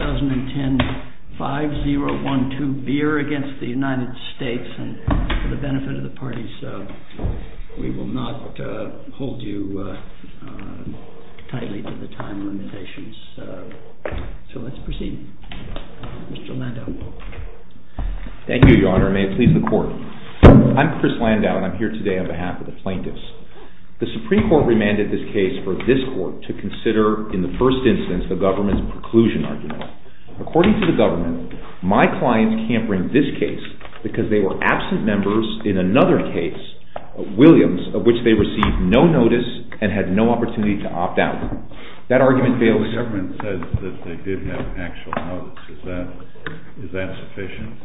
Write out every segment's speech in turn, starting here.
2010 5-0-1-2 BEER against the United States, and for the benefit of the parties, we will not hold you tightly to the time limitations. So let's proceed. Mr. Landau, you're up. Thank you, Your Honor, and may it please the Court. I'm Chris Landau, and I'm here today on behalf of the plaintiffs. The Supreme Court remanded this case for this Court to consider in the first instance the government's preclusion argument. According to the government, my clients can't bring this case because they were absent members in another case, Williams, of which they received no notice and had no opportunity to opt out. That argument fails to... The government says that they did have actual notice. Is that sufficient?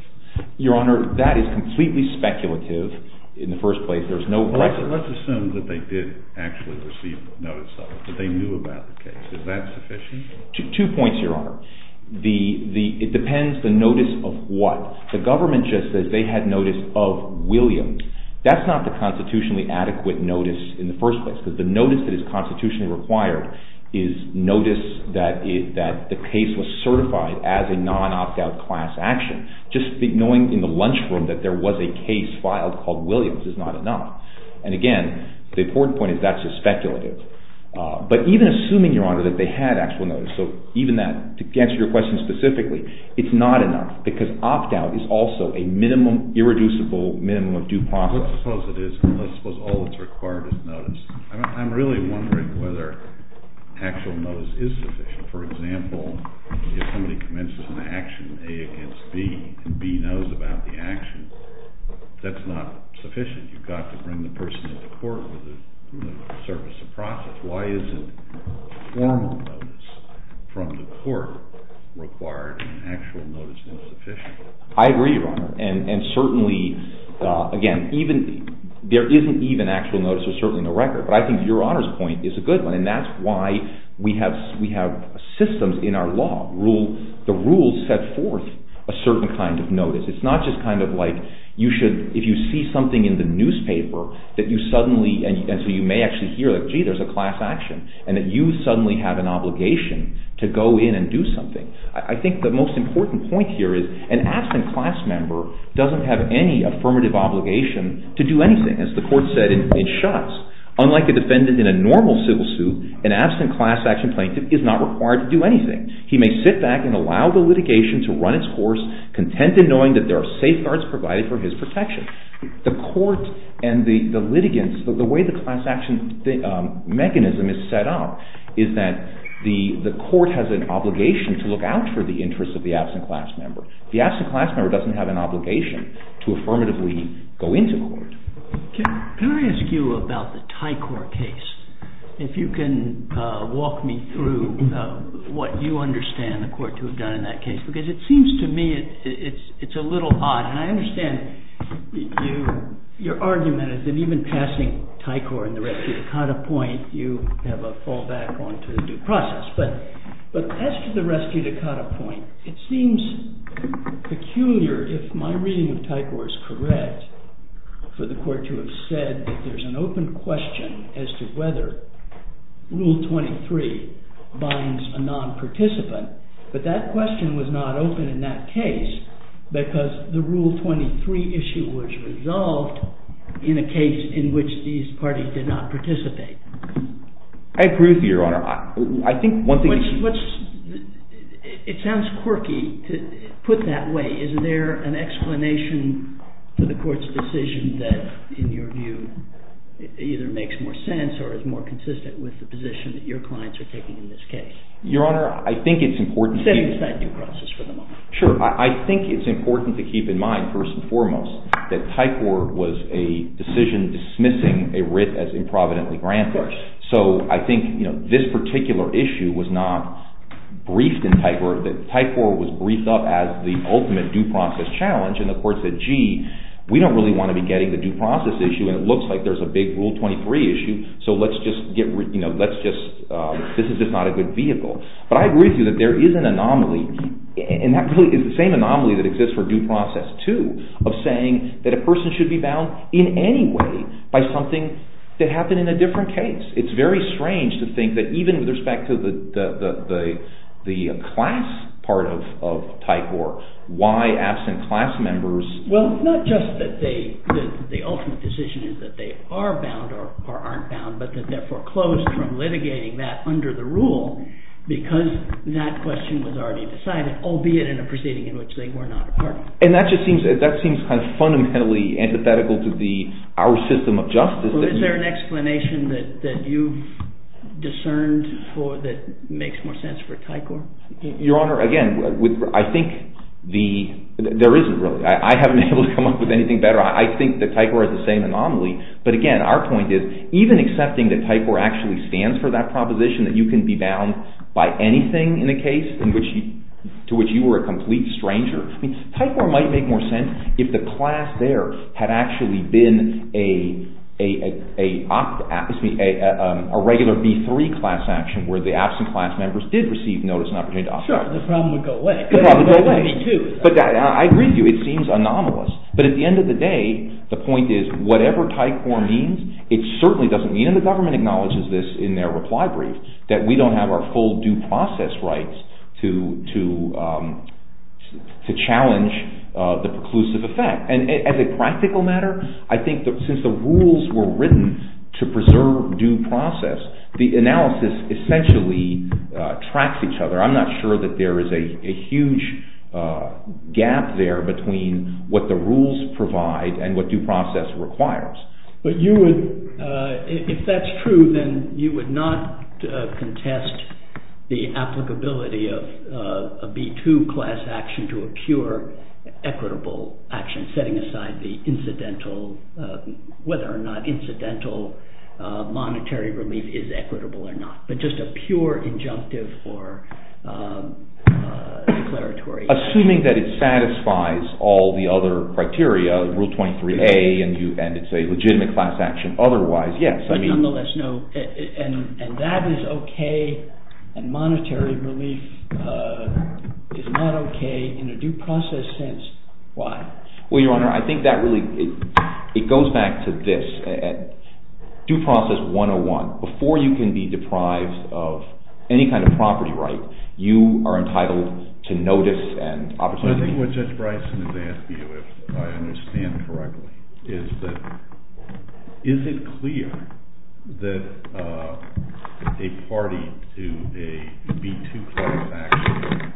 Your Honor, that is completely speculative in the first place. There's no precedent. Let's assume that they did actually receive notice of it, that they knew about the case. Is that sufficient? Two points, Your Honor. It depends the notice of what. The government just says they had notice of Williams. That's not the constitutionally adequate notice in the first place, because the notice that is constitutionally required is notice that the case was certified as a non-opt-out class action. Just knowing in the lunchroom that there was a case filed called Williams is not enough. Again, the important point is that's just speculative. Even assuming, Your Honor, that they had actual notice, to answer your question specifically, it's not enough, because opt-out is also a minimum, irreducible minimum of due process. Let's suppose it is. Let's suppose all that's required is notice. I'm really wondering whether actual notice is sufficient. For example, if somebody commences an action, A, against B, and B knows about the action, that's not sufficient. You've got to bring the person to court with a service of process. Why isn't formal notice from the court required and actual notice not sufficient? I agree, Your Honor. And certainly, again, there isn't even actual notice. There's certainly no record. But I think Your Honor's point is a good one. And that's why we have systems in our law. The rules set forth a certain kind of notice. It's not just kind of like you should, if you see something in the newspaper, that you suddenly, and so you may actually hear, gee, there's a class action, and that you suddenly have an obligation to go in and do something. I think the most important point here is an absent class member doesn't have any affirmative obligation to do anything. As the court said in Schutz, unlike a defendant in a normal civil suit, an absent class action plaintiff is not required to do anything. He may sit back and allow the litigation to run its course, content in knowing that there are safeguards provided for his protection. The court and the litigants, the way the class action mechanism is set up is that the court has an obligation to look out for the interests of the absent class member. The absent class member doesn't have an obligation to affirmatively go into court. Can I ask you about the Tycor case? If you can walk me through what you understand the court to have done in that case, because it seems to me it's a little odd. And I understand your argument is that even passing Tycor and the Rescue Dakota point, you have a fallback on to the due process. But as to the Rescue Dakota point, it seems peculiar, if my reading of Tycor is correct, for the court to have said that there's an open question as to whether Rule 23 binds a non-participant. But that question was not open in that case, because the Rule 23 issue was resolved in a case in which these parties did not participate. I agree with you, Your Honor. I think one thing... It sounds quirky to put that way. Is there an explanation for the court's decision that, in your view, either makes more sense or is more consistent with the position that your clients are taking in this case? Your Honor, I think it's important to keep in mind, first and foremost, that Tycor was a decision dismissing a writ as improvidently granted. So I think this particular issue was not briefed in Tycor. Tycor was briefed up as the ultimate due process challenge, and the court said, gee, we don't really want to be getting the due process issue, and it looks like there's a big Rule 23 issue, so let's just... This is just not a good vehicle. But I agree with you that there is an anomaly, and that really is the same anomaly that exists for due process too, of saying that a person should be bound in any way by something that with respect to the class part of Tycor, why absent class members... Well, not just that the ultimate decision is that they are bound or aren't bound, but that they're foreclosed from litigating that under the rule because that question was already decided, albeit in a proceeding in which they were not a part of. And that just seems kind of fundamentally antithetical to our system of justice. So is there an explanation that you've discerned that makes more sense for Tycor? Your Honor, again, I think the... There isn't really. I haven't been able to come up with anything better. I think that Tycor is the same anomaly, but again, our point is, even accepting that Tycor actually stands for that proposition, that you can be bound by anything in a case to which you were a complete stranger, Tycor might make more sense if the class there had actually been a regular B3 class action where the absent class members did receive notice and opportunity to operate. Sure, the problem would go away. The problem would go away. There would be two. I agree with you. It seems anomalous. But at the end of the day, the point is, whatever Tycor means, it certainly doesn't mean, and the government acknowledges this in their reply brief, that we don't have our full due process rights to challenge the preclusive effect. And as a practical matter, I think that since the rules were written to preserve due process, the analysis essentially tracks each other. I'm not sure that there is a huge gap there between what the rules provide and what due process requires. But you would... If that's true, then you would not contest the applicability of a B2 class action to a pure equitable action, setting aside whether or not incidental monetary relief is equitable or not, but just a pure injunctive or declaratory. Assuming that it satisfies all the other criteria, Rule 23a, and it's a legitimate class action otherwise, yes. But nonetheless, no. And that is okay, and monetary relief is not okay in a due process sense. Why? Well, Your Honor, I think that really... It goes back to this. Due process 101. Before you can be deprived of any kind of property right, you are entitled to notice and opportunity. Well, I think what Judge Bryson is asking you, if I understand correctly, is that... Is it clear that a party to a B2 class action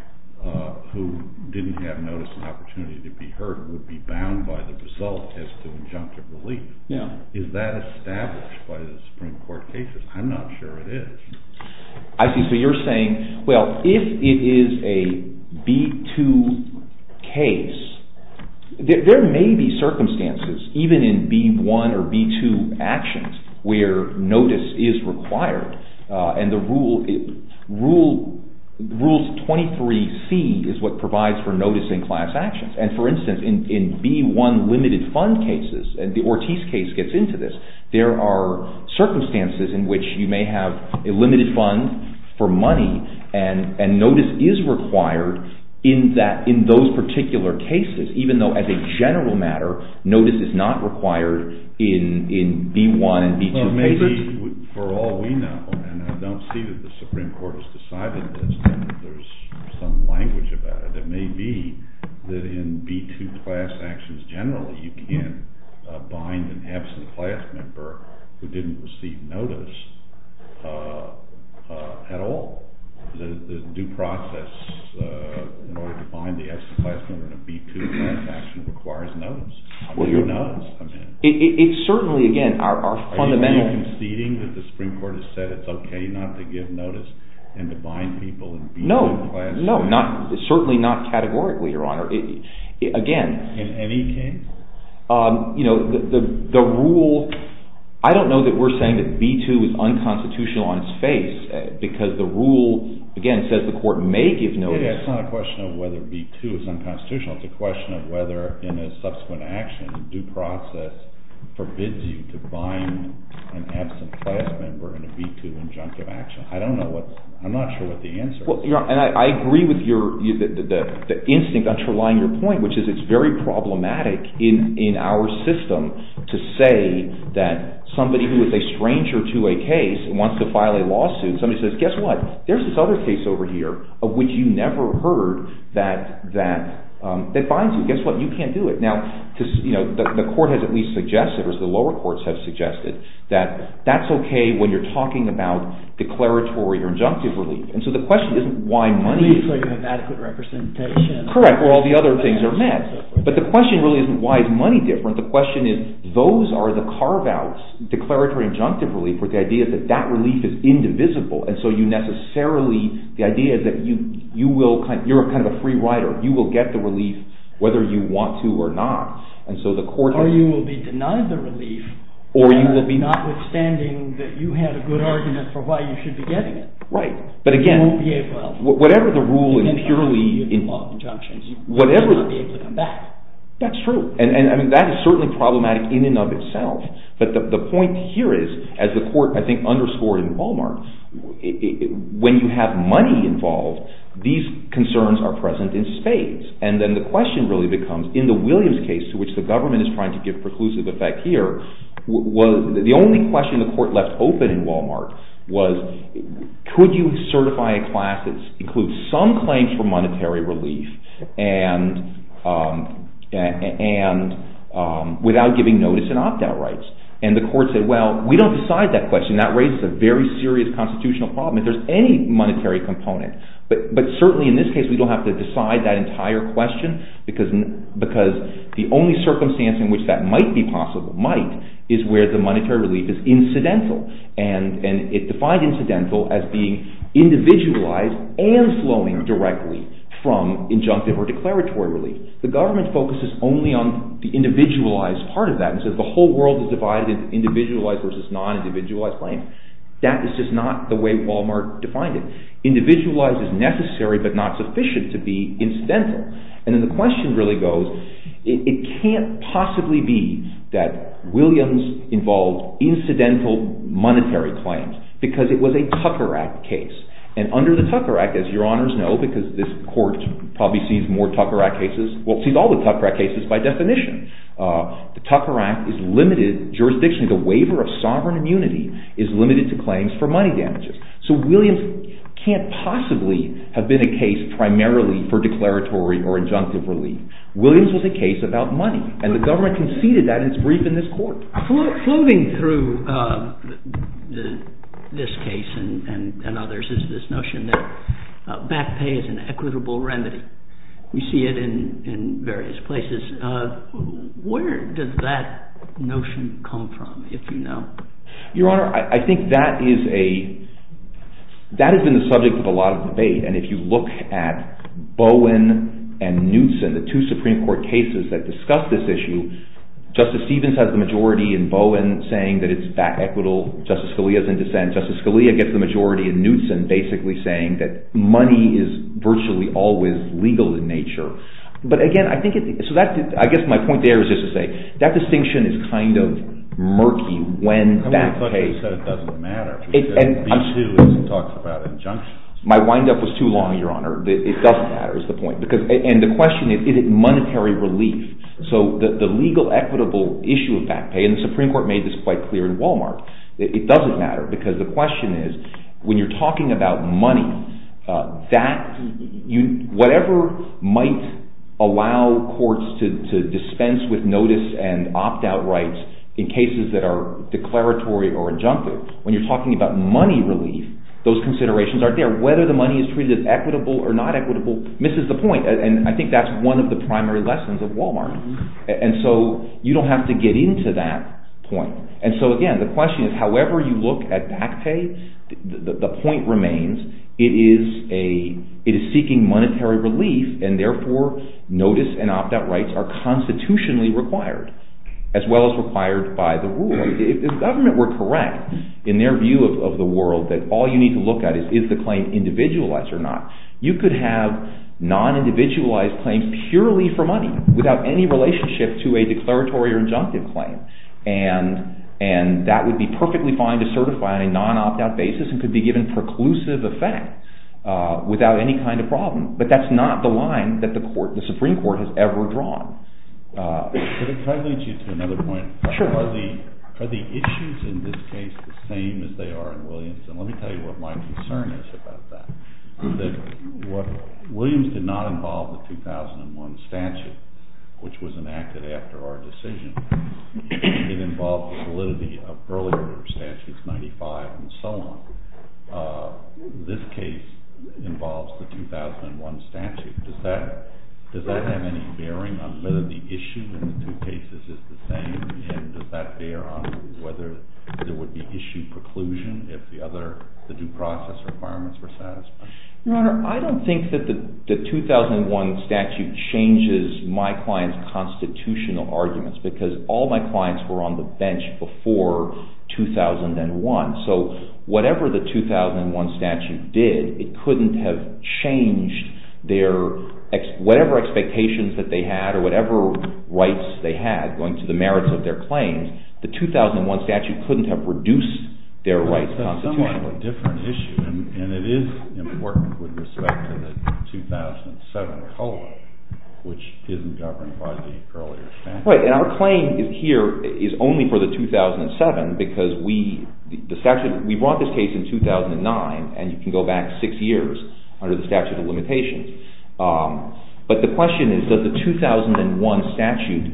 who didn't have notice and opportunity to be heard would be bound by the result as to injunctive relief? Yeah. Is that established by the Supreme Court cases? I'm not sure it is. I see. So you're saying, well, if it is a B2 case, there may be circumstances, even in B1 or B2 actions, where notice is required, and the rule... Rule 23c is what provides for notice in class actions. And for instance, in B1 limited fund cases, and the Ortiz case gets into this, there are circumstances in which you may have a limited fund for money and notice is required in those particular cases, even though as a general matter, notice is not required in B1 and B2 cases? Well, maybe for all we know, and I don't see that the Supreme Court has decided this, and there's some language about it, it may be that in B2 class actions generally you can bind an absent class member who didn't receive notice at all. The due process in order to bind the absent class member in a B2 class action requires notice. I mean, notice, I mean... It certainly, again, our fundamental... Are you conceding that the Supreme Court has said it's okay not to give notice and to bind people in B2 class actions? No, no, certainly not categorically, Your Honor. Again... In any case? You know, the rule, I don't know that we're saying that B2 is unconstitutional on its face, because the rule, again, says the court may give notice... It's not a question of whether B2 is unconstitutional, it's a question of whether in a subsequent action, due process forbids you to bind an absent class member in a B2 injunctive action. I don't know what, I'm not sure what the answer is. Well, Your Honor, and I agree with the instinct underlying your point, which is it's very problematic in our system to say that somebody who is a stranger to a case and wants to file a lawsuit, somebody says, guess what, there's this other case over here of which you never heard that binds you, guess what, you can't do it. Now, the court has at least suggested, or the lower courts have suggested, that that's okay when you're talking about declaratory or injunctive relief. And so the question isn't why money... Relief so you have adequate representation. Correct, where all the other things are met. But the question really isn't why is money different, the question is, those are the carve-outs, declaratory and injunctive relief, where the idea is that that relief is indivisible, and so you necessarily, the idea is that you will, you're kind of a free rider, you will get the relief whether you want to or not. Or you will be denied the relief, notwithstanding that you had a good argument for why you should be getting it. Right, but again... You won't be able to. Whatever the ruling purely... You can't argue in law of injunctions, you will not be able to come back. That's true, and that is certainly problematic in and of itself, but the point here is, as the court, I think, underscored in Wal-Mart, when you have money involved, these concerns are present in spades. And then the question really becomes, in the Williams case, to which the government is trying to give preclusive effect here, the only question the court left open in Wal-Mart was, could you certify a class that includes some claims for monetary relief without giving notice and opt-out rights? And the court said, well, we don't decide that question, that raises a very serious constitutional problem, if there's any monetary component, but certainly in this case we don't have to decide that entire question, because the only circumstance in which that might be possible, might, is where the monetary relief is incidental, and it defined incidental as being individualized and flowing directly from injunctive or declaratory relief. The government focuses only on the individualized part of that, and says the whole world is divided into individualized versus non-individualized claims. That is just not the way Wal-Mart defined it. Individualized is necessary but not sufficient to be incidental. And then the question really goes, it can't possibly be that Williams involved incidental monetary claims, because it was a Tucker Act case, and under the Tucker Act, as your honors know, because this court probably sees more Tucker Act cases, well, sees all the Tucker Act cases by definition, the Tucker Act is limited jurisdiction, the waiver of sovereign immunity is limited to claims for money damages. So Williams can't possibly have been a case primarily for declaratory or injunctive relief. Williams was a case about money, and the government conceded that in its brief in this court. Flowing through this case and others is this notion that back pay is an equitable remedy. We see it in various places. Where does that notion come from, if you know? Your honor, I think that is a, that has been the subject of a lot of debate, and if you look at Bowen and Knutson, the two Supreme Court cases that discuss this issue, Justice Stevens has the majority in Bowen saying that it's back equitable, Justice Scalia is in dissent, Justice Scalia gets the majority in Knutson basically saying that money is virtually always legal in nature. But again, I think, I guess my point there is just to kind of murky when back pay. I thought you said it doesn't matter. B-2 talks about injunctions. My windup was too long, your honor. It doesn't matter is the point. And the question is, is it monetary relief? So the legal equitable issue of back pay, and the Supreme Court made this quite clear in Wal-Mart, it doesn't matter because the question is, when you're talking about money, that, whatever might allow courts to dispense with notice and opt out rights in cases that are declaratory or injunctive, when you're talking about money relief, those considerations are there. Whether the money is treated as equitable or not equitable misses the point, and I think that's one of the primary lessons of Wal-Mart. And so, you don't have to get into that point. And so again, the question is, however you look at back pay, the point remains, it is a, it is seeking monetary relief, and as well as required by the rule. If the government were correct, in their view of the world, that all you need to look at is, is the claim individualized or not, you could have non-individualized claims purely for money, without any relationship to a declaratory or injunctive claim. And that would be perfectly fine to certify on a non-opt-out basis, and could be given preclusive effect, without any kind of problem. But that's not the line that the Supreme Court has ever drawn. Can I lead you to another point? Sure. Are the issues in this case the same as they are in Williams? And let me tell you what my concern is about that. Williams did not involve the 2001 statute, which was enacted after our decision. It involved the validity of earlier statutes, 95 and so on. This case involves the 2001 statute. Does that have any bearing on whether the issue in the two cases is the same, and does that bear on whether there would be issue preclusion if the other, the due process requirements were satisfied? Your Honor, I don't think that the 2001 statute changes my client's constitutional arguments, because all my clients were on the bench before 2001. So whatever the 2001 statute did, it couldn't have changed their, whatever expectations that they had, or whatever rights they had, going to the merits of their claims, the 2001 statute couldn't have reduced their rights constitutionally. That's a somewhat different issue, and it is important with respect to the 2007 COLA, which isn't governed by the earlier statute. Right. And our claim here is only for the 2007, because we, the statute, we brought this case in 2009, and you can go back six years under the statute of limitations. But the question is, does the 2001 statute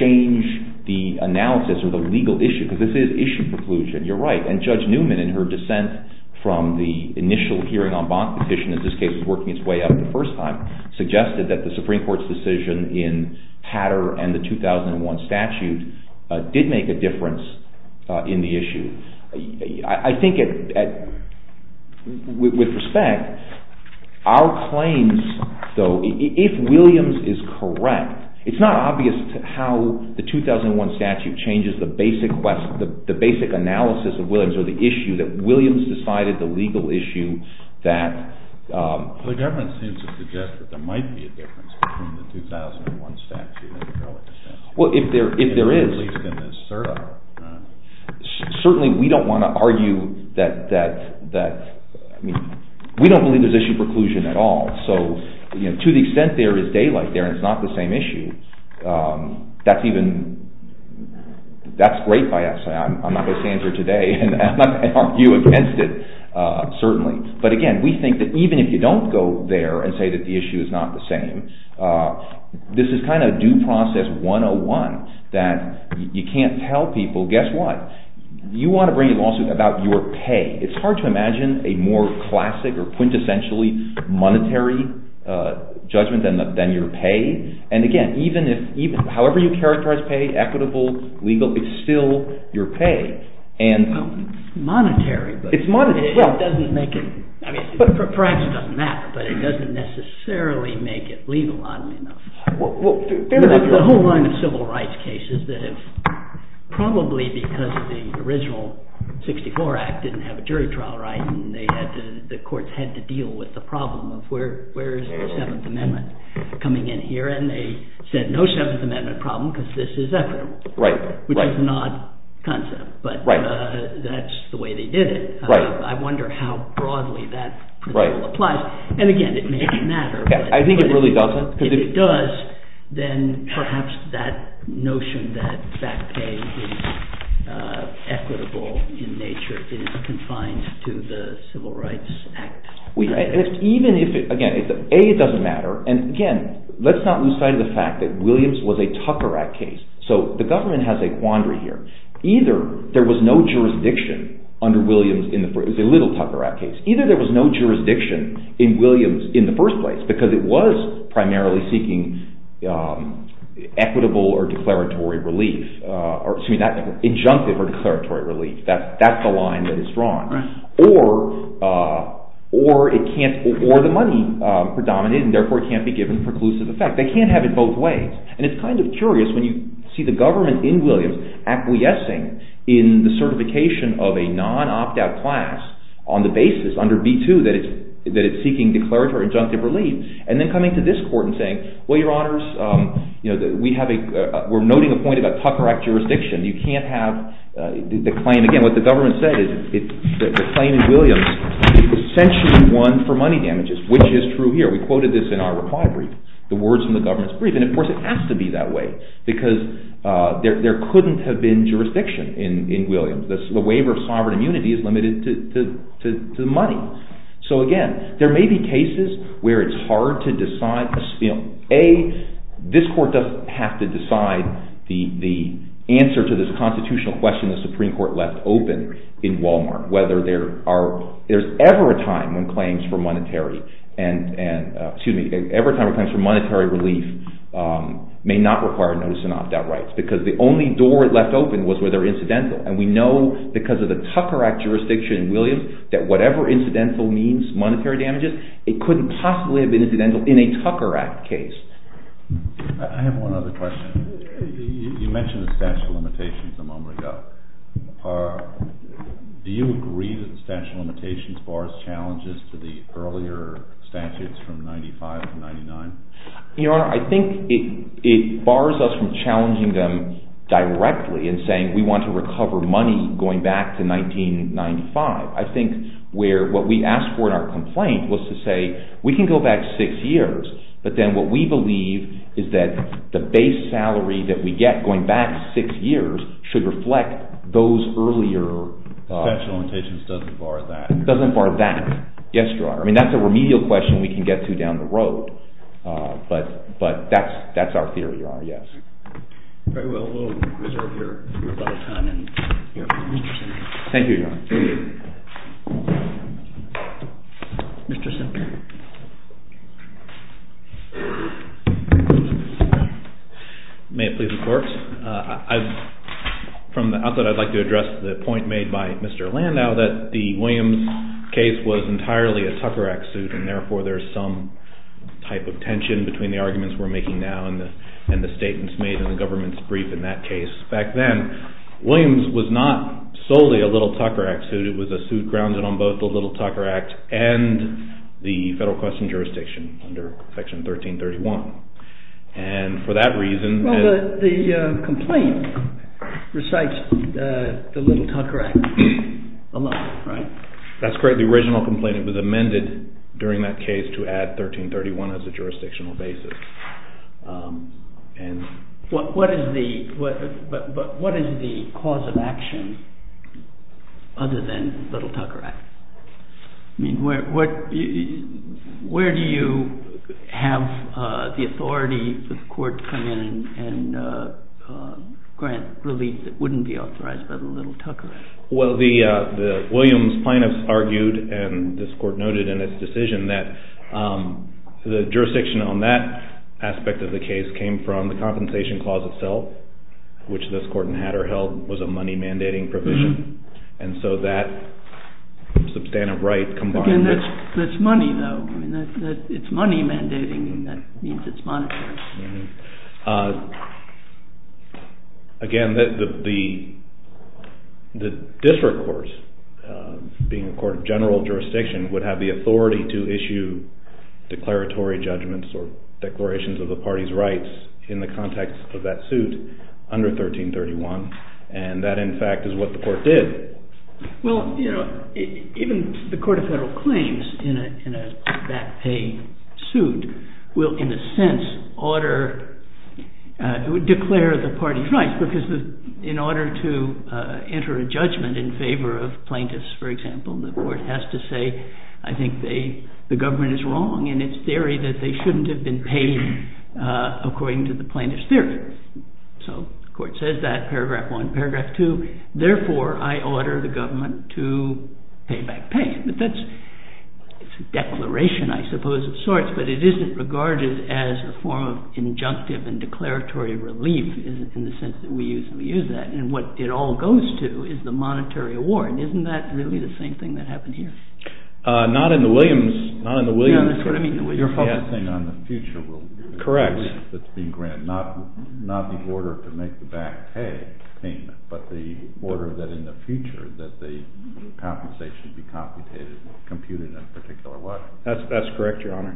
change the analysis or the legal issue? Because this is issue preclusion, you're right. And Judge Newman, in her dissent from the initial hearing on Bonk Petition, in this case it was working its way up the first time, suggested that the Supreme Court's decision in Patter and the 2001 statute did make a difference. With respect, our claims, though, if Williams is correct, it's not obvious how the 2001 statute changes the basic analysis of Williams or the issue that Williams decided the legal issue that... The government seems to suggest that there might be a difference between the 2001 statute and the COLA statute. Well, if there is... At least in this third article. Certainly, we don't want to argue that... I mean, we don't believe there's issue preclusion at all. So, you know, to the extent there is daylight there and it's not the same issue, that's even... that's great by us. I'm not going to stand here today and argue against it, certainly. But again, we think that even if you don't go there and say that the issue is not the same, this is kind of due process 101 that you can't tell people, guess what? You want to bring a lawsuit about your pay. It's hard to imagine a more classic or quintessentially monetary judgment than your pay. And again, even if... however you characterize pay, equitable, legal, it's still your pay. It's monetary. It's monetary, yeah. It doesn't make it... I mean, perhaps it doesn't matter, but it doesn't necessarily make it legal, oddly enough. Well, there's... There's a whole line of civil rights cases that have probably because the original 64 Act didn't have a jury trial right and they had to... the courts had to deal with the problem of where is the 7th Amendment coming in here and they said no 7th Amendment problem because this is equitable. Right. Which is an odd concept, but that's the way they did it. I wonder how broadly that applies. And again, it may not matter. I think it really doesn't. If it does, then perhaps that notion that back pay is equitable in nature is confined to the Civil Rights Act. Even if it... again, A, it doesn't matter. And again, let's not lose sight of the fact that Williams was a Tucker Act case, so the government has a quandary here. Either there was no jurisdiction under Williams in the... it was a little Tucker Act case. Either there was no jurisdiction in Williams in the first place because it was primarily seeking equitable or declaratory relief, or excuse me, injunctive or declaratory relief. That's the line that is drawn. Right. Or it can't... or the money predominated and therefore it can't be given preclusive effect. They can't have it both ways. And it's kind of curious when you see the government in Williams acquiescing in the certification of a non-opt-out class on the basis under B-2 that it's seeking declaratory or injunctive relief, and then coming to this court and saying, well, your honors, we're noting a point about Tucker Act jurisdiction. You can't have the claim... again, what the government said is the claim in Williams essentially won for money damages, which is true here. We quoted this in our reply brief, the words from the government's brief, and of course it has to be that way because there couldn't have been jurisdiction in Williams. The waiver of sovereign immunity is limited to money. So, again, there may be cases where it's hard to decide... A, this court doesn't have to decide the answer to this constitutional question the Supreme Court left open in Walmart, whether there are... there's ever a time when claims for monetary relief may not require notice of non-opt-out rights because the only door it left open was where they're incidental, and we know because of the Tucker Act jurisdiction in Williams that whatever incidental means, monetary damages, it couldn't possibly have been incidental in a Tucker Act case. I have one other question. You mentioned the statute of limitations a moment ago. Do you agree that the statute of limitations bars challenges to the earlier statutes from 1995 to 1999? Your Honor, I think it bars us from challenging them directly and saying we want to recover money going back to 1995. I think where what we asked for in our complaint was to say we can go back six years, but then what we believe is that the base salary that we get going back six years should reflect those earlier... The statute of limitations doesn't bar that. Doesn't bar that. Yes, Your Honor. I mean, that's a remedial question we can get to down the road, but that's our theory, Your Honor. Yes. Very well. We'll reserve here a lot of time and hear from Mr. Semper. Thank you, Your Honor. Thank you. Mr. Semper. May it please the Court? From the outset, I'd like to address the point made by Mr. Landau that the Williams case was entirely a Tucker Act suit, and therefore there's some type of tension between the arguments we're making now and the statements made in the government's brief in that case. Back then, Williams was not solely a Little Tucker Act suit. It was a suit grounded on both the Little Tucker Act and the federal question jurisdiction under Section 1331. And for that reason... Well, the complaint recites the Little Tucker Act a lot, right? That's correct. The original complaint was amended during that case to add 1331 as a jurisdictional basis. But what is the cause of action other than the Little Tucker Act? I mean, where do you have the authority for the court to come in and grant relief that wouldn't be authorized by the Little Tucker Act? Well, the Williams plaintiffs argued, and this Court noted in its decision, that the jurisdiction on that aspect of the case came from the Compensation Clause itself, which this Court in Hatter held was a money-mandating provision. And so that substantive right combined... Again, that's money, though. It's money-mandating, and that means it's monetary. Again, the district courts, being a court of general jurisdiction, would have the authority to issue declaratory judgments or declarations of the party's rights in the context of that suit under 1331, and that, in fact, is what the court did. Well, even the Court of Federal Claims, in a back-paying suit, will, in a sense, declare the party's rights, because in order to enter a judgment in favor of plaintiffs, for example, the court has to say, I think the government is wrong, and it's theory that they shouldn't have been paid according to the plaintiffs' theory. So the court says that, paragraph one. Paragraph two, therefore, I order the government to pay back pay. That's a declaration, I suppose, of sorts, but it isn't regarded as a form of injunctive and declaratory relief in the sense that we usually use that, and what it all goes to is the monetary award. Isn't that really the same thing that happened here? Not in the Williams case. That's what I mean, the Williams case. Your public thing on the future will be... Correct. ...not the order to make the back-pay payment, but the order that in the future that the compensation be computed in a particular way. That's correct, Your Honor.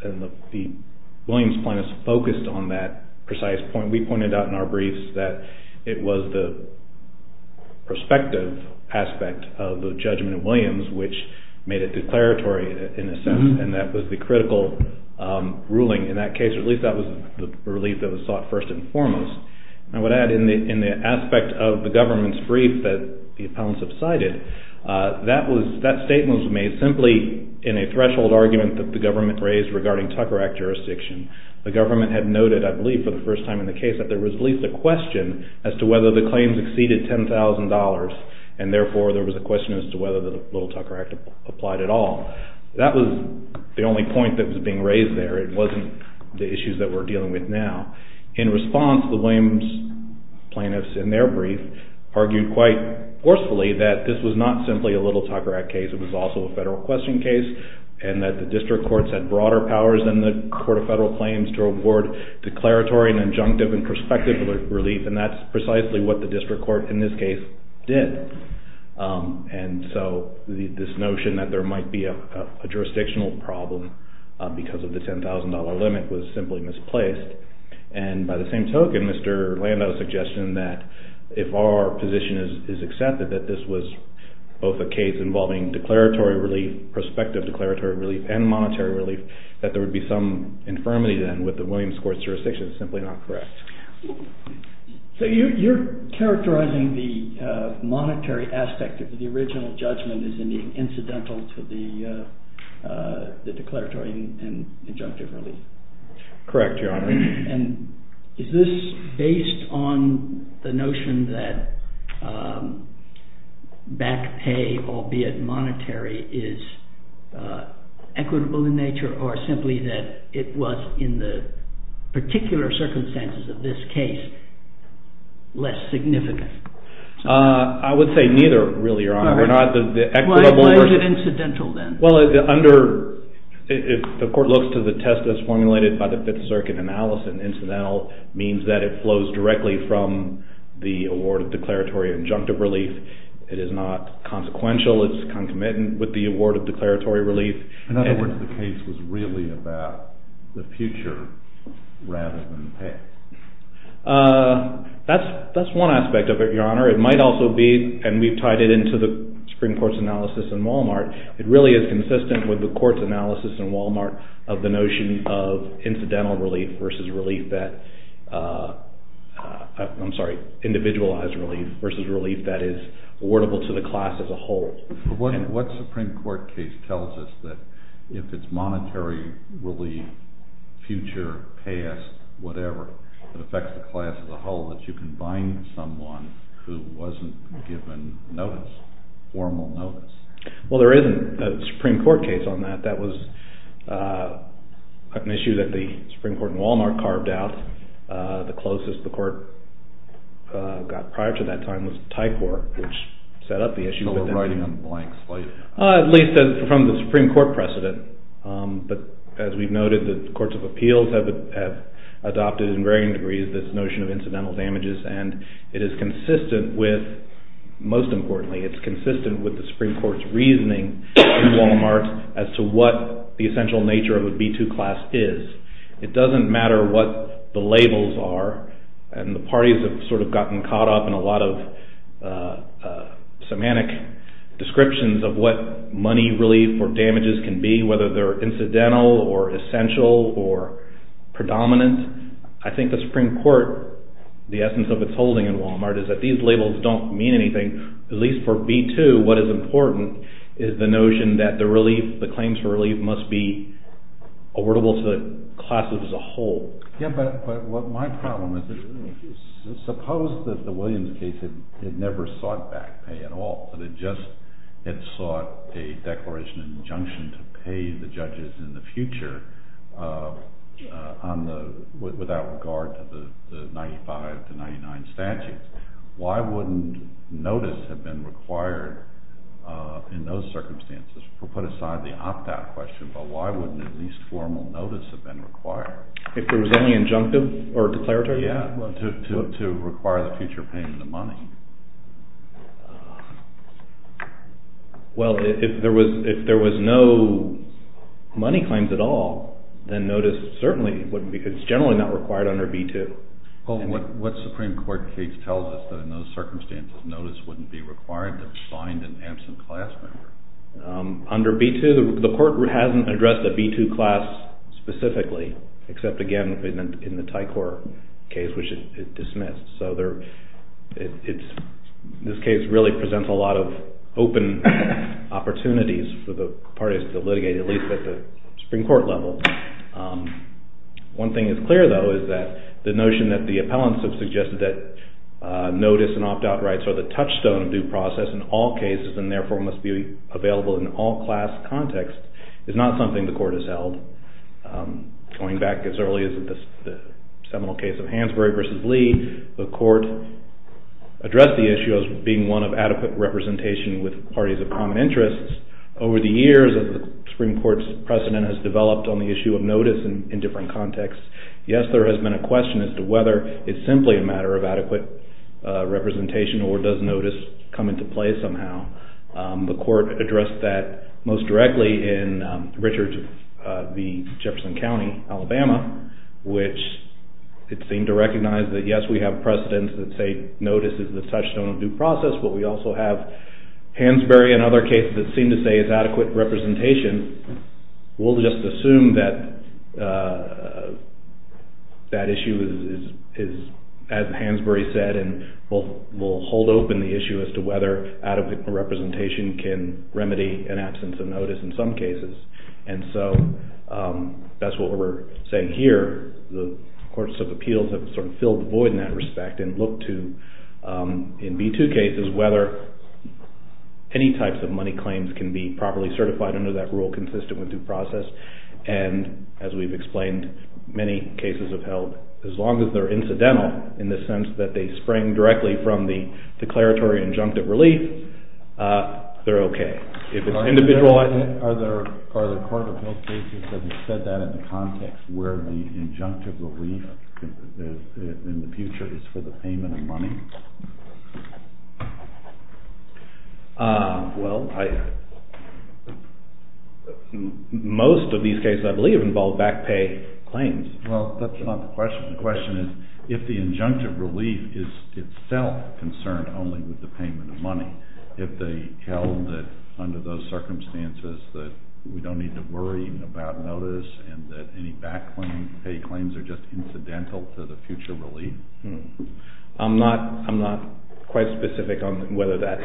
And the Williams plaintiffs focused on that precise point. We pointed out in our briefs that it was the prospective aspect of the judgment of Williams which made it declaratory in a sense, and that was the critical ruling in that case, or at least that was the relief that was sought first and foremost. And I would add, in the aspect of the government's brief that the appellants have cited, that statement was made simply in a threshold argument that the government raised regarding Tucker Act jurisdiction. The government had noted, I believe, for the first time in the case, that there was at least a question as to whether the claims exceeded $10,000, and therefore there was a question as to whether the little Tucker Act applied at all. That was the only point that was being raised there. It wasn't the issues that we're dealing with now. In response, the Williams plaintiffs in their brief argued quite forcefully that this was not simply a little Tucker Act case. It was also a federal question case, and that the district courts had broader powers than the court of federal claims to award declaratory and injunctive and prospective relief, and that's precisely what the district court in this case did. And so this notion that there might be a jurisdictional problem because of the $10,000 limit was simply misplaced. And by the same token, Mr. Lando's suggestion that if our position is accepted that this was both a case involving declaratory relief, prospective declaratory relief, and monetary relief, that there would be some infirmity then with the Williams court's jurisdiction is simply not correct. So you're characterizing the monetary aspect of the original judgment as being incidental to the declaratory and injunctive relief? Correct, Your Honor. And is this based on the notion that back pay, albeit monetary, is equitable in nature, or simply that it was in the particular circumstances of this case less significant? I would say neither, really, Your Honor. Why is it incidental then? Well, if the court looks to the test as formulated by the Fifth Circuit analysis, incidental means that it flows directly from the award of declaratory and injunctive relief. It is not consequential. It's concomitant with the award of declaratory relief. In other words, the case was really about the future rather than the past. That's one aspect of it, Your Honor. It might also be, and we've tied it into the Supreme Court's analysis in Wal-Mart, it really is consistent with the Court's analysis in Wal-Mart of the notion of incidental relief versus relief that, I'm sorry, individualized relief versus relief that is awardable to the class as a whole. What Supreme Court case tells us that if it's monetary relief, future, past, whatever, that affects the class as a whole that you can bind someone who wasn't given notice, formal notice? Well, there isn't a Supreme Court case on that. That was an issue that the Supreme Court in Wal-Mart carved out. The closest the Court got prior to that time was the Thai Court, which set up the issue. So we're riding on a blank slate. At least from the Supreme Court precedent. But as we've noted, the courts of appeals have adopted in varying degrees this notion of incidental damages, and it is consistent with, most importantly, it's consistent with the Supreme Court's reasoning in Wal-Mart as to what the essential nature of a B2 class is. It doesn't matter what the labels are, and the parties have sort of gotten caught up in a lot of semantic descriptions of what money relief or damages can be, whether they're incidental or essential or predominant. I think the Supreme Court, the essence of its holding in Wal-Mart, is that these labels don't mean anything. At least for B2, what is important is the notion that the claims for relief must be awardable to the class as a whole. Yeah, but what my problem is, suppose that the Williams case had never sought back pay at all, but it just had sought a declaration of injunction to pay the judges in the future without regard to the 95 to 99 statutes. Why wouldn't notice have been required in those circumstances? We'll put aside the opt-out question, but why wouldn't at least formal notice have been required? If it was only injunctive or declaratory? Yeah, to require the future payment of money. Well, if there was no money claims at all, then notice certainly wouldn't be – it's generally not required under B2. Well, what Supreme Court case tells us is that in those circumstances notice wouldn't be required to find an absent class member. Under B2, the court hasn't addressed the B2 class specifically, except again in the Tycor case, which it dismissed. So this case really presents a lot of open opportunities for the parties to litigate, at least at the Supreme Court level. One thing is clear, though, is that the notion that the appellants have suggested that notice and opt-out rights are the touchstone of due process in all cases, and therefore must be available in all class contexts, is not something the court has held. Going back as early as the seminal case of Hansberry v. Lee, the court addressed the issue as being one of adequate representation with parties of common interests. Over the years, as the Supreme Court's precedent has developed on the issue of notice in different contexts, yes, there has been a question as to whether it's simply a matter of adequate representation or does notice come into play somehow. The court addressed that most directly in Richards v. Jefferson County, Alabama, which it seemed to recognize that yes, we have precedents that say notice is the touchstone of due process, but we also have Hansberry and other cases that seem to say it's adequate representation. We'll just assume that that issue is, as Hansberry said, and we'll hold open the issue as to whether adequate representation can remedy an absence of notice in some cases. And so that's what we're saying here. The courts of appeals have sort of filled the void in that respect and looked to, in B2 cases, whether any types of money claims can be properly certified under that rule consistent with due process. And as we've explained, many cases have held, as long as they're incidental, in the sense that they spring directly from the declaratory injunctive relief, they're okay. Are there court of appeals cases that have said that in the context, where the injunctive relief in the future is for the payment of money? Most of these cases, I believe, involve back pay claims. Well, that's not the question. The question is if the injunctive relief is itself concerned only with the payment of money, if they held that under those circumstances that we don't need to worry about notice and that any back pay claims are just incidental to the future relief. I'm not quite specific on whether that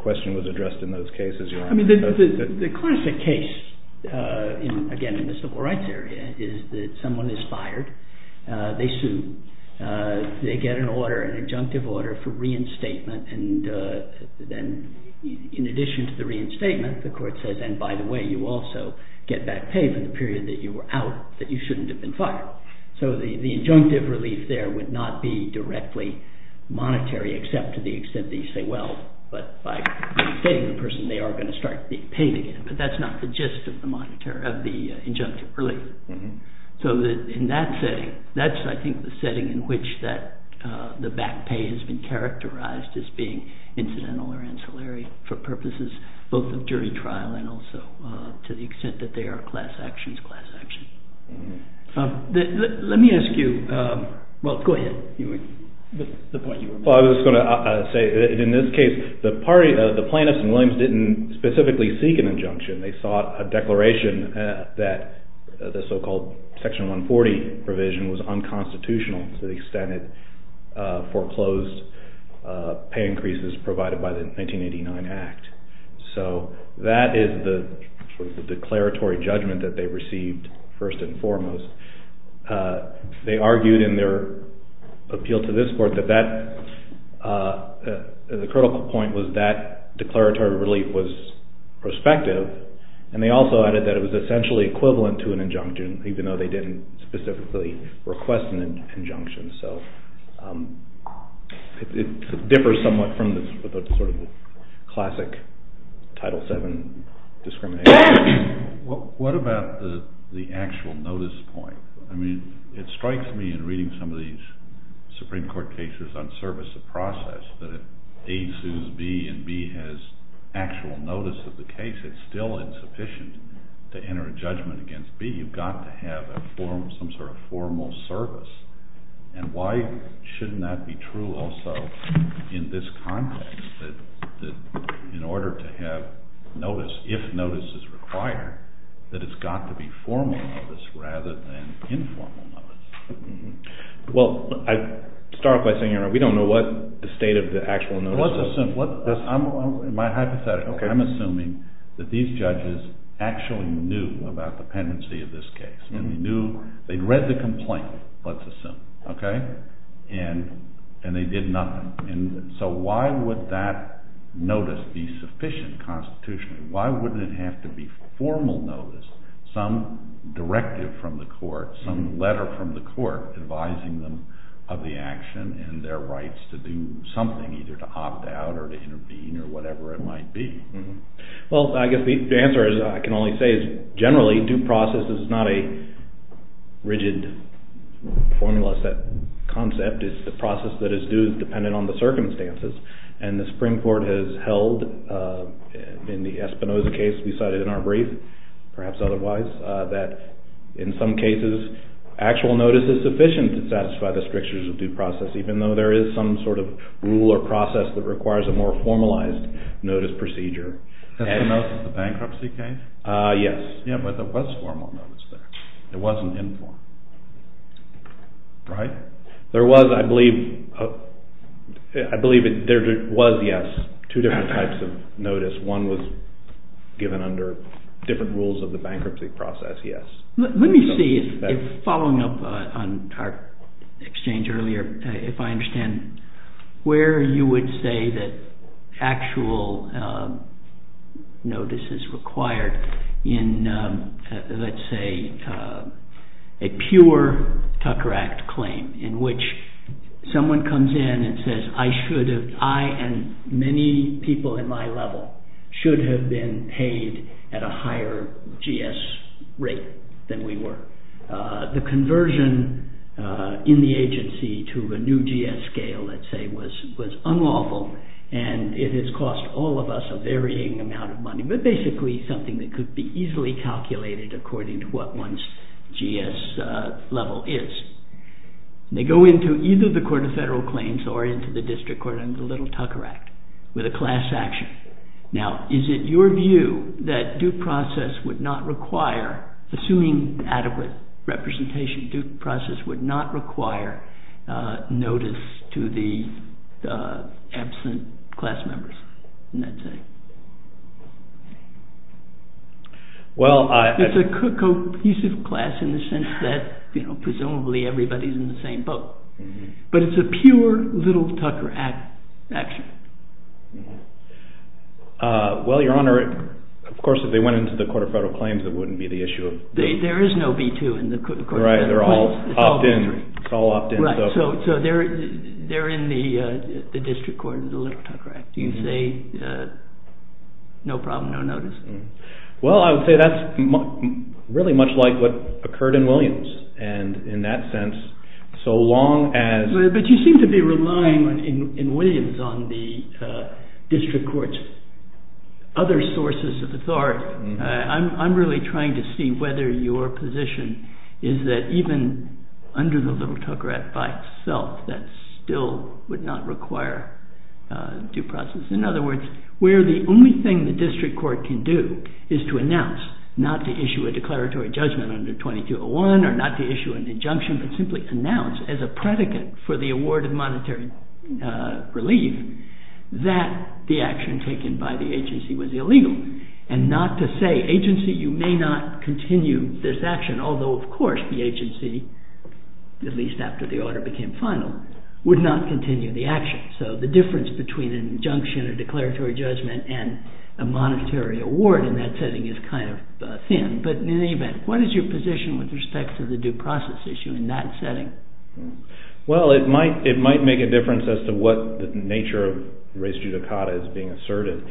question was addressed in those cases. I mean, the classic case, again, in the civil rights area, is that someone is fired, they sue, they get an order, an injunctive order for reinstatement, and then in addition to the reinstatement, the court says, and by the way, you also get back pay for the period that you were out, that you shouldn't have been fired. So the injunctive relief there would not be directly monetary, except to the extent that you say, well, but by reinstating the person, they are going to start being paid again. But that's not the gist of the injunctive relief. So in that setting, that's I think the setting in which the back pay has been characterized as being incidental or ancillary for purposes both of jury trial and also to the extent that they are class actions, class action. Let me ask you, well, go ahead. Well, I was going to say, in this case, the plaintiffs in Williams didn't specifically seek an injunction. They sought a declaration that the so-called Section 140 provision was unconstitutional to the extent it foreclosed pay increases provided by the 1989 Act. So that is the declaratory judgment that they received first and foremost. They argued in their appeal to this court that that, the critical point was that declaratory relief was prospective and they also added that it was essentially equivalent to an injunction even though they didn't specifically request an injunction. So it differs somewhat from the sort of classic Title VII discrimination. What about the actual notice point? I mean, it strikes me in reading some of these Supreme Court cases on service of process that if A sues B and B has actual notice of the case, it's still insufficient to enter a judgment against B. You've got to have some sort of formal service. And why shouldn't that be true also in this context that in order to have notice, if notice is required, that it's got to be formal notice rather than informal notice? Well, I start by saying we don't know what the state of the actual notice is. Let's assume, my hypothetical, I'm assuming that these judges actually knew about the pendency of this case. They knew, they'd read the complaint, let's assume, okay? And they did nothing. And so why would that notice be sufficient constitutionally? Why wouldn't it have to be formal notice, some directive from the court, some letter from the court advising them of the action and their rights to do something, either to opt out or to intervene or whatever it might be? Well, I guess the answer I can only say is generally due process is not a rigid formula set concept. It's the process that is due dependent on the circumstances. And the Supreme Court has held in the Espinoza case we cited in our brief, perhaps otherwise, that in some cases actual notice is sufficient to satisfy the strictures of due process, even though there is some sort of rule or process that requires a more formalized notice procedure. Espinoza, the bankruptcy case? Yes. Yeah, but there was formal notice there. It wasn't informal, right? There was, I believe, there was, yes, two different types of notice. One was given under different rules of the bankruptcy process, yes. Let me see, following up on our exchange earlier, if I understand where you would say that actual notice is required in, let's say, a pure Tucker Act claim in which someone comes in and says I should have, I and many people in my level should have been paid at a higher GS rate than we were. The conversion in the agency to a new GS scale, let's say, was unlawful, and it has cost all of us a varying amount of money, but basically something that could be easily calculated according to what one's GS level is. They go into either the court of federal claims or into the district court under the little Tucker Act with a class action. Now, is it your view that due process would not require, assuming adequate representation, due process would not require notice to the absent class members in that setting? It's a cohesive class in the sense that presumably everybody's in the same boat, but it's a pure little Tucker Act action. Well, Your Honor, of course, if they went into the court of federal claims, it wouldn't be the issue. There is no B-2 in the court of federal claims. Right, they're all opt-in. It's all opt-in. So they're in the district court under the little Tucker Act. Do you say no problem, no notice? Well, I would say that's really much like what occurred in Williams, and in that sense, so long as... But you seem to be relying in Williams on the district court's other sources of authority. I'm really trying to see whether your position is that even under the little Tucker Act by itself, that still would not require due process. In other words, where the only thing the district court can do is to announce, not to issue a declaratory judgment under 2201 or not to issue an injunction, but simply announce as a predicate for the award of monetary relief that the action taken by the agency was illegal, and not to say, agency, you may not continue this action, although, of course, the agency, at least after the order became final, would not continue the action. So the difference between an injunction, a declaratory judgment, and a monetary award in that setting is kind of thin. But in any event, what is your position with respect to the due process issue in that setting? Well, it might make a difference as to what the nature of res judicata is being asserted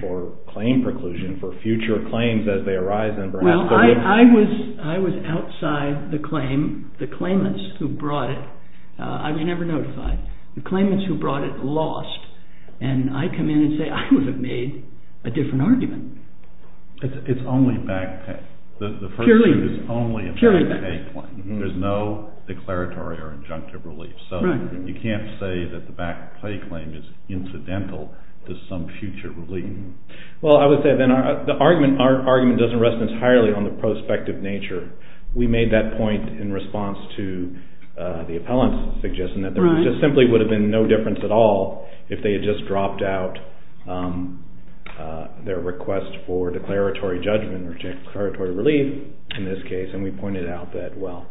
for claim preclusion for future claims as they arise and perhaps... Well, I was outside the claim, the claimants who brought it. I was never notified. The claimants who brought it lost, and I come in and say, I would have made a different argument. It's only back pay. Purely back pay. There's no declaratory or injunctive relief. So you can't say that the back pay claim is incidental to some future relief. Well, I would say then the argument doesn't rest entirely on the prospective nature. We made that point in response to the appellant's suggestion that there just simply would have been no difference at all if they had just dropped out their request for declaratory judgment or declaratory relief in this case, and we pointed out that, well,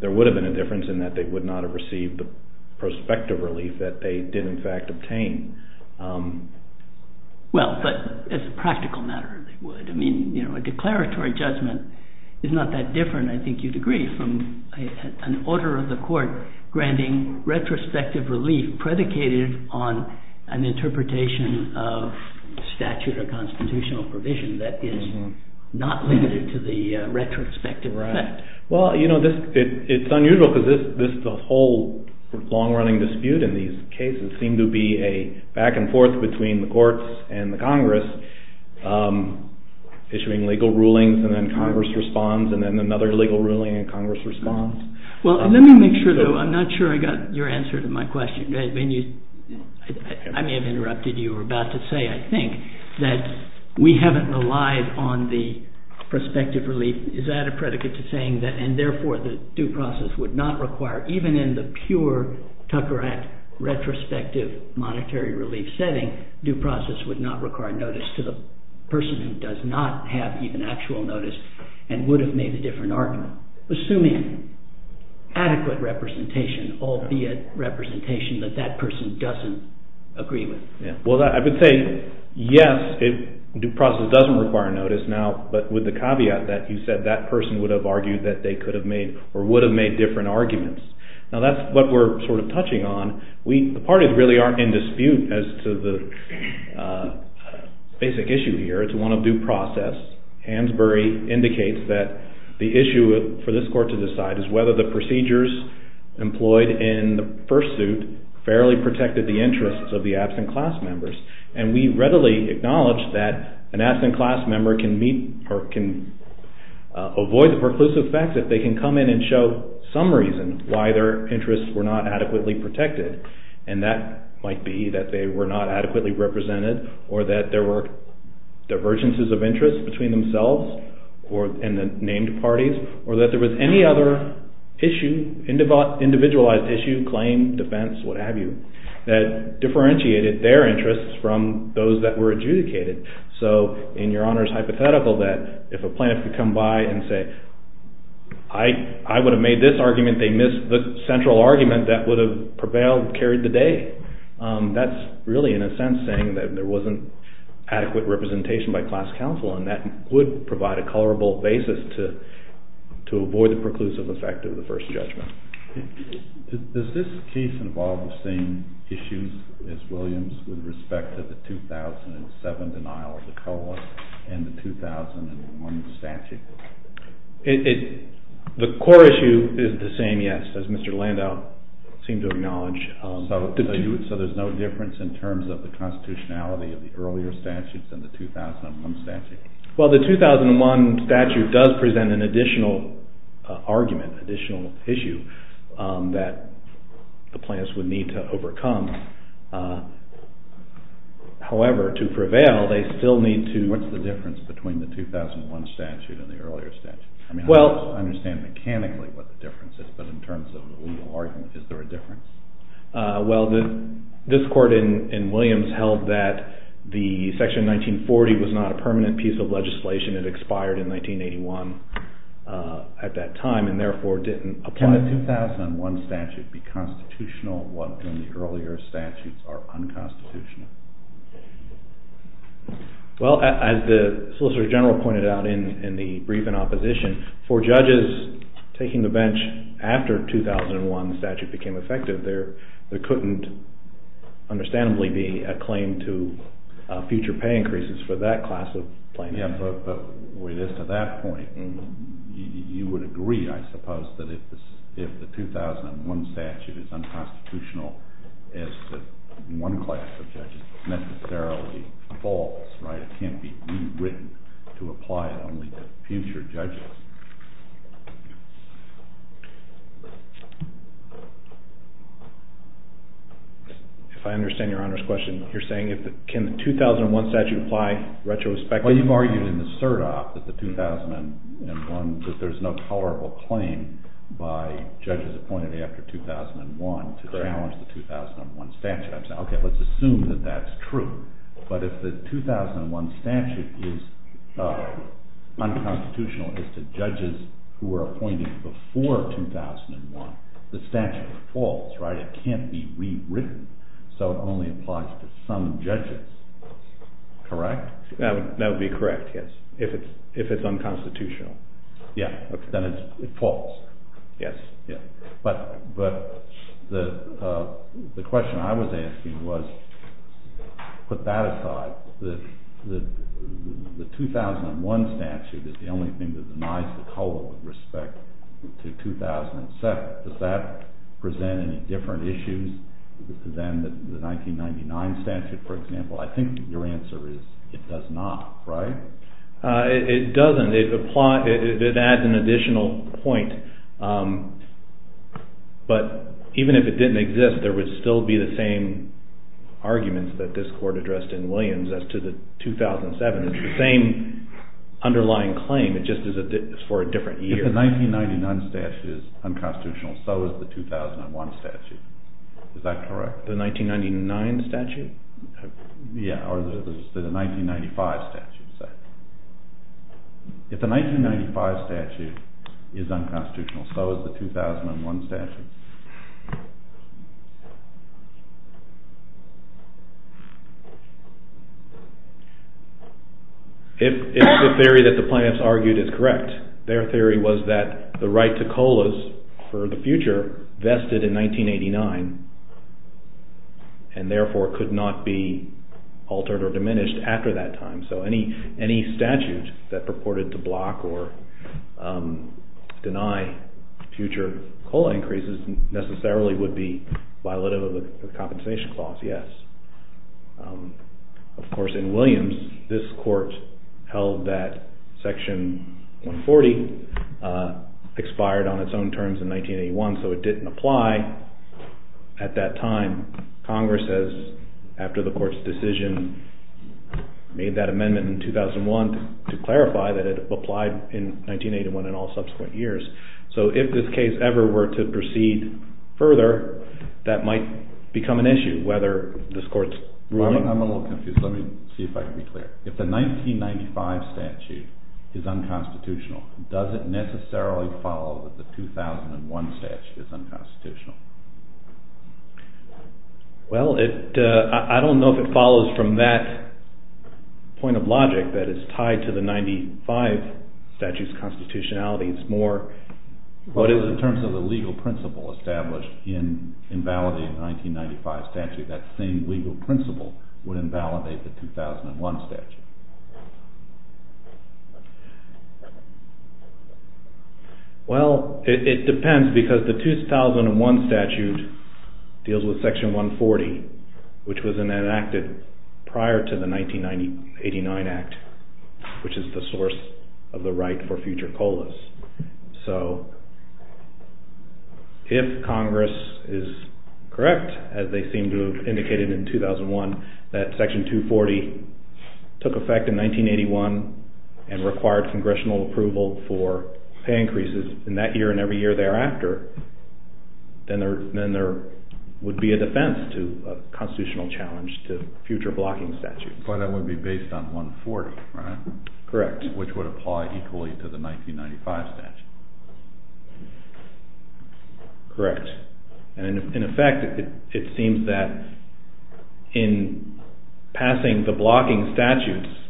there would have been a difference in that they would not have received the prospective relief that they did in fact obtain. Well, but as a practical matter, they would. I mean, a declaratory judgment is not that different, I think you'd agree, from an order of the court granting retrospective relief predicated on an interpretation of statute or constitutional provision that is not limited to the retrospective effect. Well, you know, it's unusual because the whole long-running dispute in these cases seemed to be a back and forth between the courts and the Congress, issuing legal rulings and then Congress responds and then another legal ruling and Congress responds. Well, let me make sure, though, I'm not sure I got your answer to my question. I may have interrupted you. You were about to say, I think, that we haven't relied on the prospective relief. Is that a predicate to saying that, and therefore the due process would not require, even in the pure Tucker Act retrospective monetary relief setting, due process would not require notice to the person who does not have even actual notice and would have made a different argument, assuming adequate representation, albeit representation that that person doesn't agree with? Well, I would say, yes, due process doesn't require notice now, but with the caveat that you said that person would have argued that they could have made or would have made different arguments. Now, that's what we're sort of touching on. The parties really aren't in dispute as to the basic issue here. It's one of due process. Hansberry indicates that the issue for this Court to decide is whether the procedures employed in the first suit fairly protected the interests of the absent class members, and we readily acknowledge that an absent class member can meet or can avoid the preclusive facts if they can come in and show some reason why their interests were not adequately protected, and that might be that they were not adequately represented or that there were divergences of interest between themselves and the named parties or that there was any other issue, individualized issue, claim, defense, what have you, that differentiated their interests from those that were adjudicated. So in Your Honor's hypothetical that if a plaintiff could come by and say, I would have made this argument, they missed the central argument that would have prevailed, carried the day. That's really in a sense saying that there wasn't adequate representation by class counsel and that would provide a colorable basis to avoid the preclusive effect of the first judgment. Does this case involve the same issues as Williams with respect to the 2007 denial of the colorless and the 2001 statute? The core issue is the same, yes, as Mr. Landau seemed to acknowledge. So there's no difference in terms of the constitutionality of the earlier statutes and the 2001 statute? Well, the 2001 statute does present an additional argument, additional issue that the plaintiffs would need to overcome. However, to prevail, they still need to… What's the difference between the 2001 statute and the earlier statute? I understand mechanically what the difference is, but in terms of the legal argument, is there a difference? Well, this court in Williams held that the Section 1940 was not a permanent piece of legislation. It expired in 1981 at that time and therefore didn't apply. Can the 2001 statute be constitutional while the earlier statutes are unconstitutional? Well, as the Solicitor General pointed out in the brief in opposition, for judges taking the bench after the 2001 statute became effective, there couldn't understandably be a claim to future pay increases for that class of plaintiffs. Yes, but with respect to that point, you would agree, I suppose, that if the 2001 statute is unconstitutional, it's that one class of judges necessarily falls, right? It can't be rewritten to apply it only to future judges. If I understand Your Honor's question, you're saying, can the 2001 statute apply retrospectively? Well, you've argued in the SIRTOP that there's no tolerable claim by judges appointed after 2001 to challenge the 2001 statute. Okay, let's assume that that's true. But if the 2001 statute is unconstitutional as to judges who are appointed before 2001, the statute falls, right? It can't be rewritten, so it only applies to some judges. Correct? That would be correct, yes, if it's unconstitutional. Yeah, then it falls. Yes. But the question I was asking was, put that aside, the 2001 statute is the only thing that denies the total respect to 2007. Does that present any different issues than the 1999 statute, for example? I think your answer is it does not, right? It doesn't. It adds an additional point, but even if it didn't exist, there would still be the same arguments that this court addressed in Williams as to the 2007. It's the same underlying claim, it's just for a different year. If the 1999 statute is unconstitutional, so is the 2001 statute. Is that correct? The 1999 statute? Yeah, or the 1995 statute. If the 1995 statute is unconstitutional, so is the 2001 statute. If the theory that the plaintiffs argued is correct, their theory was that the right to COLAs for the future vested in 1989 and therefore could not be altered or diminished after that time. So any statute that purported to block or deny future COLA increases necessarily would be violative of the Compensation Clause, yes. Of course, in Williams, this court held that Section 140 expired on its own terms in 1981, so it didn't apply at that time. Congress, after the court's decision, made that amendment in 2001 to clarify that it applied in 1981 and all subsequent years. So if this case ever were to proceed further, that might become an issue, whether this court's ruling... I'm a little confused. Let me see if I can be clear. If the 1995 statute is unconstitutional, does it necessarily follow that the 2001 statute is unconstitutional? Well, I don't know if it follows from that point of logic that it's tied to the 1995 statute's constitutionality. It's more what is in terms of the legal principle established in invalidating the 1995 statute. That same legal principle would invalidate the 2001 statute. Well, it depends, because the 2001 statute deals with Section 140, which was enacted prior to the 1989 Act, which is the source of the right for future COLAs. So if Congress is correct, as they seem to have indicated in 2001, that Section 240 took effect in 1981 and required congressional approval for pay increases in that year and every year thereafter, then there would be a defense to a constitutional challenge to future blocking statutes. But that would be based on 140, right? Correct. Which would apply equally to the 1995 statute. Correct. And in effect, it seems that in passing the blocking statutes,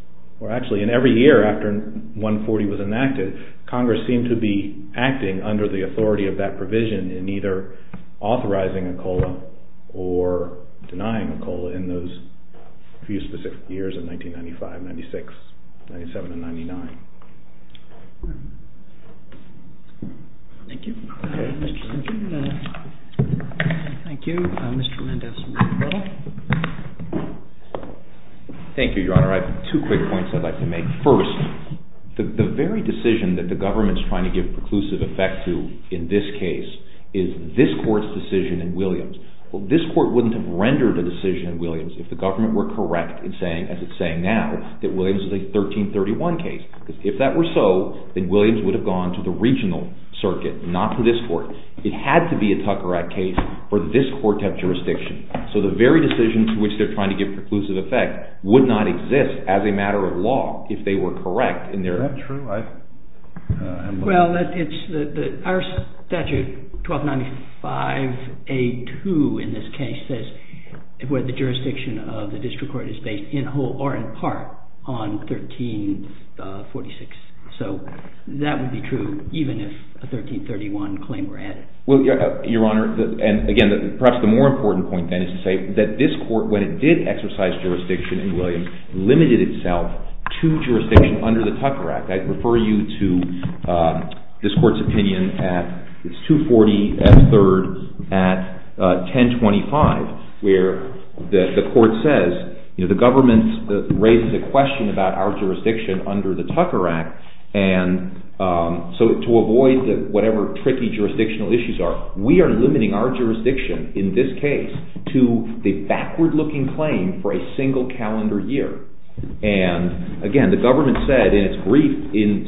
or actually in every year after 140 was enacted, Congress seemed to be acting under the authority of that provision in either authorizing a COLA or denying a COLA in those few specific years of 1995, 1996, 1997, and 1999. Thank you. Thank you. Mr. Mendez. Thank you, Your Honor. I have two quick points I'd like to make. First, the very decision that the government is trying to give preclusive effect to in this case is this Court's decision in Williams. This Court wouldn't have rendered a decision in Williams if the government were correct in saying, as it's saying now, that Williams is a 1331 case. Because if that were so, then Williams would have gone to the regional circuit, not to this Court. It had to be a Tucker Act case for this Court to have jurisdiction. So the very decision to which they're trying to give preclusive effect would not exist as a matter of law if they were correct in their... Is that true? Well, our statute, 1295A2 in this case, says where the jurisdiction of the district court is based in whole or in part on 1346. So that would be true even if a 1331 claim were added. Well, Your Honor, and again, perhaps the more important point, then, is to say that this Court, when it did exercise jurisdiction in Williams, limited itself to jurisdiction under the Tucker Act. I'd refer you to this Court's opinion at 240F3 at 1025, where the Court says, you know, the government raises a question about our jurisdiction under the Tucker Act, and so to avoid whatever tricky jurisdictional issues are, we are limiting our jurisdiction in this case to the backward-looking claim for a single calendar year. And again, the government said in its brief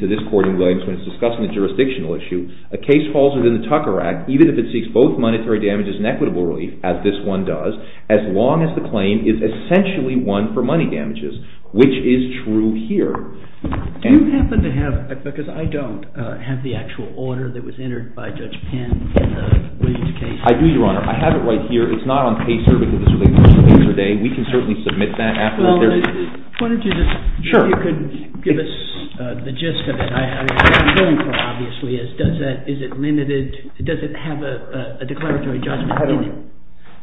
to this Court in Williams when it's discussing the jurisdictional issue, a case falls within the Tucker Act, even if it seeks both monetary damages and equitable relief, as this one does, as long as the claim is essentially one for money damages, which is true here. Do you happen to have, because I don't, have the actual order that was entered by Judge Penn in the Williams case? I do, Your Honor. I have it right here. It's not on paper because it's related to the case today. We can certainly submit that after there's... Well, why don't you just... Sure. If you could give us the gist of it. What I'm going for, obviously, is does it have a declaratory judgment in it?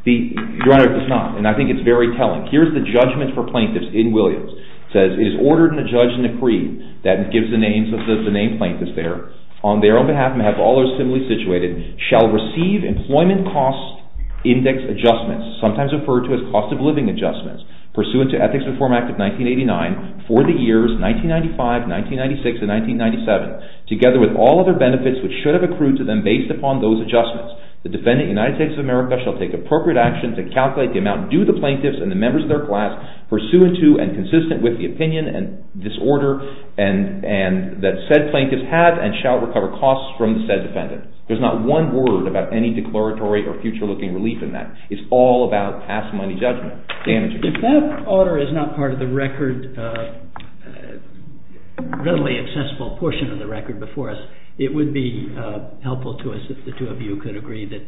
Your Honor, it does not, and I think it's very telling. Here's the judgment for plaintiffs in Williams. It says, It is ordered in the judge's decree, that gives the names of the named plaintiffs there, on their own behalf, and have all those similarly situated, shall receive employment cost index adjustments, sometimes referred to as cost of living adjustments, pursuant to Ethics Reform Act of 1989, for the years 1995, 1996, and 1997, together with all other benefits which should have accrued to them based upon those adjustments. The defendant, United States of America, shall take appropriate action to calculate the amount due to the plaintiffs and the members of their class, pursuant to and consistent with the opinion and disorder that said plaintiff has and shall recover costs from the said defendant. There's not one word about any declaratory or future-looking relief in that. It's all about past money judgment. If that order is not part of the record, readily accessible portion of the record before us, it would be helpful to us if the two of you could agree that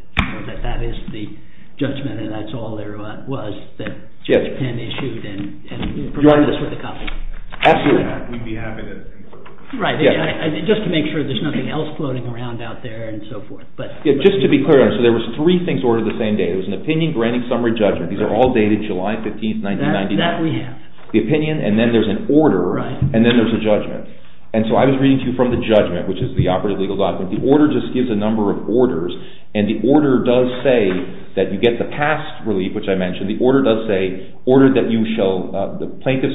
that is the judgment and that's all there was that Judge Penn issued and provided us with a copy. Absolutely. We'd be happy to. Right. Just to make sure there's nothing else floating around out there and so forth. Just to be clear, there were three things ordered the same day. There was an opinion, granting, summary, and judgment. These are all dated July 15, 1999. That we have. The opinion, and then there's an order, and then there's a judgment. And so I was reading to you from the judgment, which is the operative legal document. The order just gives a number of orders, and the order does say that you get the past relief, which I mentioned. The order does say, Order that ECI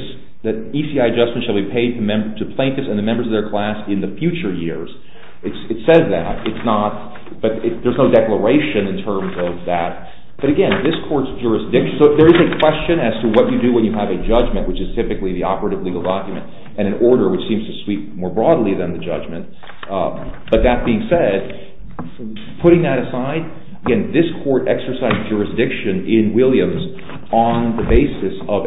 adjustments shall be paid to plaintiffs and the members of their class in the future years. It says that, but there's no declaration in terms of that. But again, this court's jurisdiction. So there is a question as to what you do when you have a judgment, which is typically the operative legal document, and an order, which seems to sweep more broadly than the judgment. But that being said, putting that aside, again, this court exercised jurisdiction in Williams on the basis of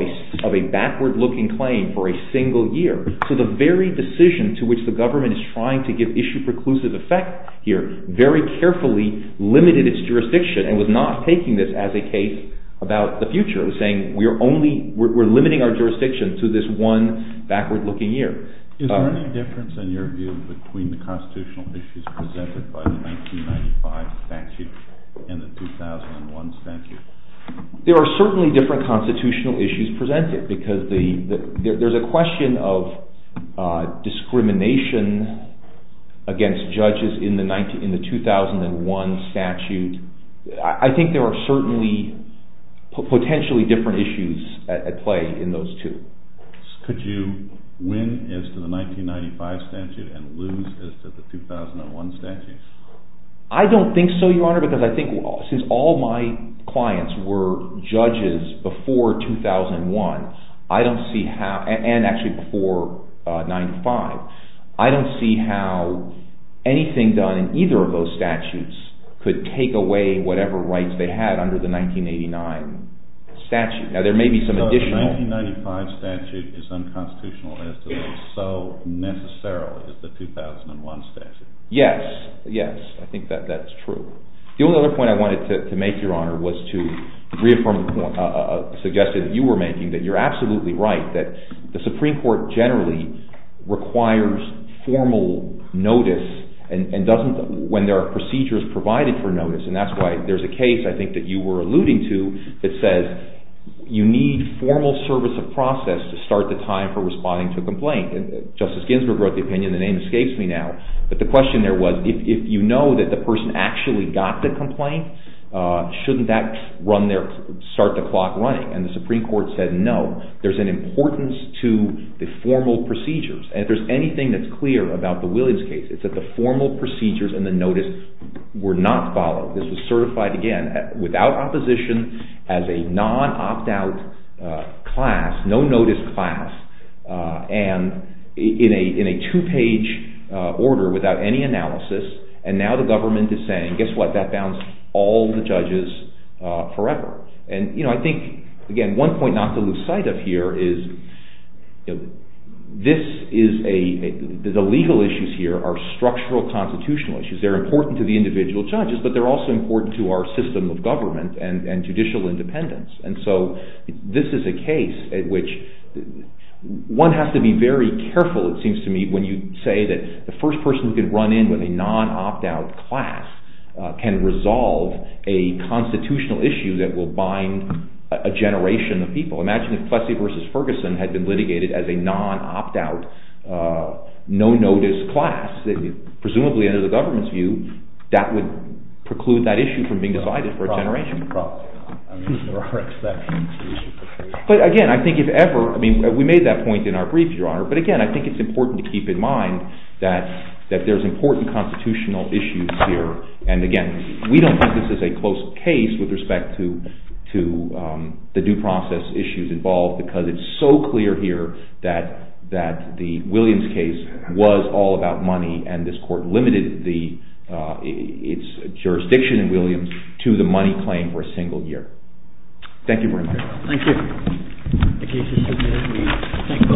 a backward-looking claim for a single year. So the very decision to which the government is trying to give issue preclusive effect here very carefully limited its jurisdiction and was not taking this as a case about the future. It was saying, we're limiting our jurisdiction to this one backward-looking year. Is there any difference in your view between the constitutional issues presented by the 1995 statute and the 2001 statute? There are certainly different constitutional issues presented, because there's a question of discrimination against judges in the 2001 statute. I think there are certainly potentially different issues at play in those two. Could you win as to the 1995 statute and lose as to the 2001 statute? I don't think so, Your Honor, because I think since all my clients were judges before 2001, and actually before 95, I don't see how anything done in either of those statutes could take away whatever rights they had under the 1989 statute. So the 1995 statute is unconstitutional as to be so necessary as the 2001 statute. Yes, yes, I think that's true. The only other point I wanted to make, Your Honor, was to reaffirm a suggestion that you were making, that you're absolutely right, that the Supreme Court generally requires formal notice when there are procedures provided for notice, and that's why there's a case I think that you were alluding to that says you need formal service of process to start the time for responding to a complaint. Justice Ginsburg wrote the opinion, the name escapes me now, but the question there was if you know that the person actually got the complaint, shouldn't that start the clock running? And the Supreme Court said no. There's an importance to the formal procedures, and if there's anything that's clear about the Williams case, it's that the formal procedures and the notice were not followed. This was certified, again, without opposition, as a non-opt-out class, no-notice class, and in a two-page order without any analysis, and now the government is saying, guess what, that bounds all the judges forever. And I think, again, one point not to lose sight of here is the legal issues here are structural constitutional issues. They're important to the individual judges, but they're also important to our system of government and judicial independence, and so this is a case at which one has to be very careful, it seems to me, when you say that the first person who can run in with a non-opt-out class can resolve a constitutional issue that will bind a generation of people. Imagine if Plessy v. Ferguson had been litigated as a non-opt-out, no-notice class, presumably under the government's view, that would preclude that issue from being decided for a generation. But again, I think if ever, I mean, we made that point in our brief, Your Honor, but again, I think it's important to keep in mind that there's important constitutional issues here, and again, we don't think this is a close case with respect to the due process issues involved, because it's so clear here that the Williams case was all about money, and this court limited its jurisdiction in Williams to the money claim for a single year. Thank you very much. Thank you. The case is submitted. Thank you both, counsel. All rise.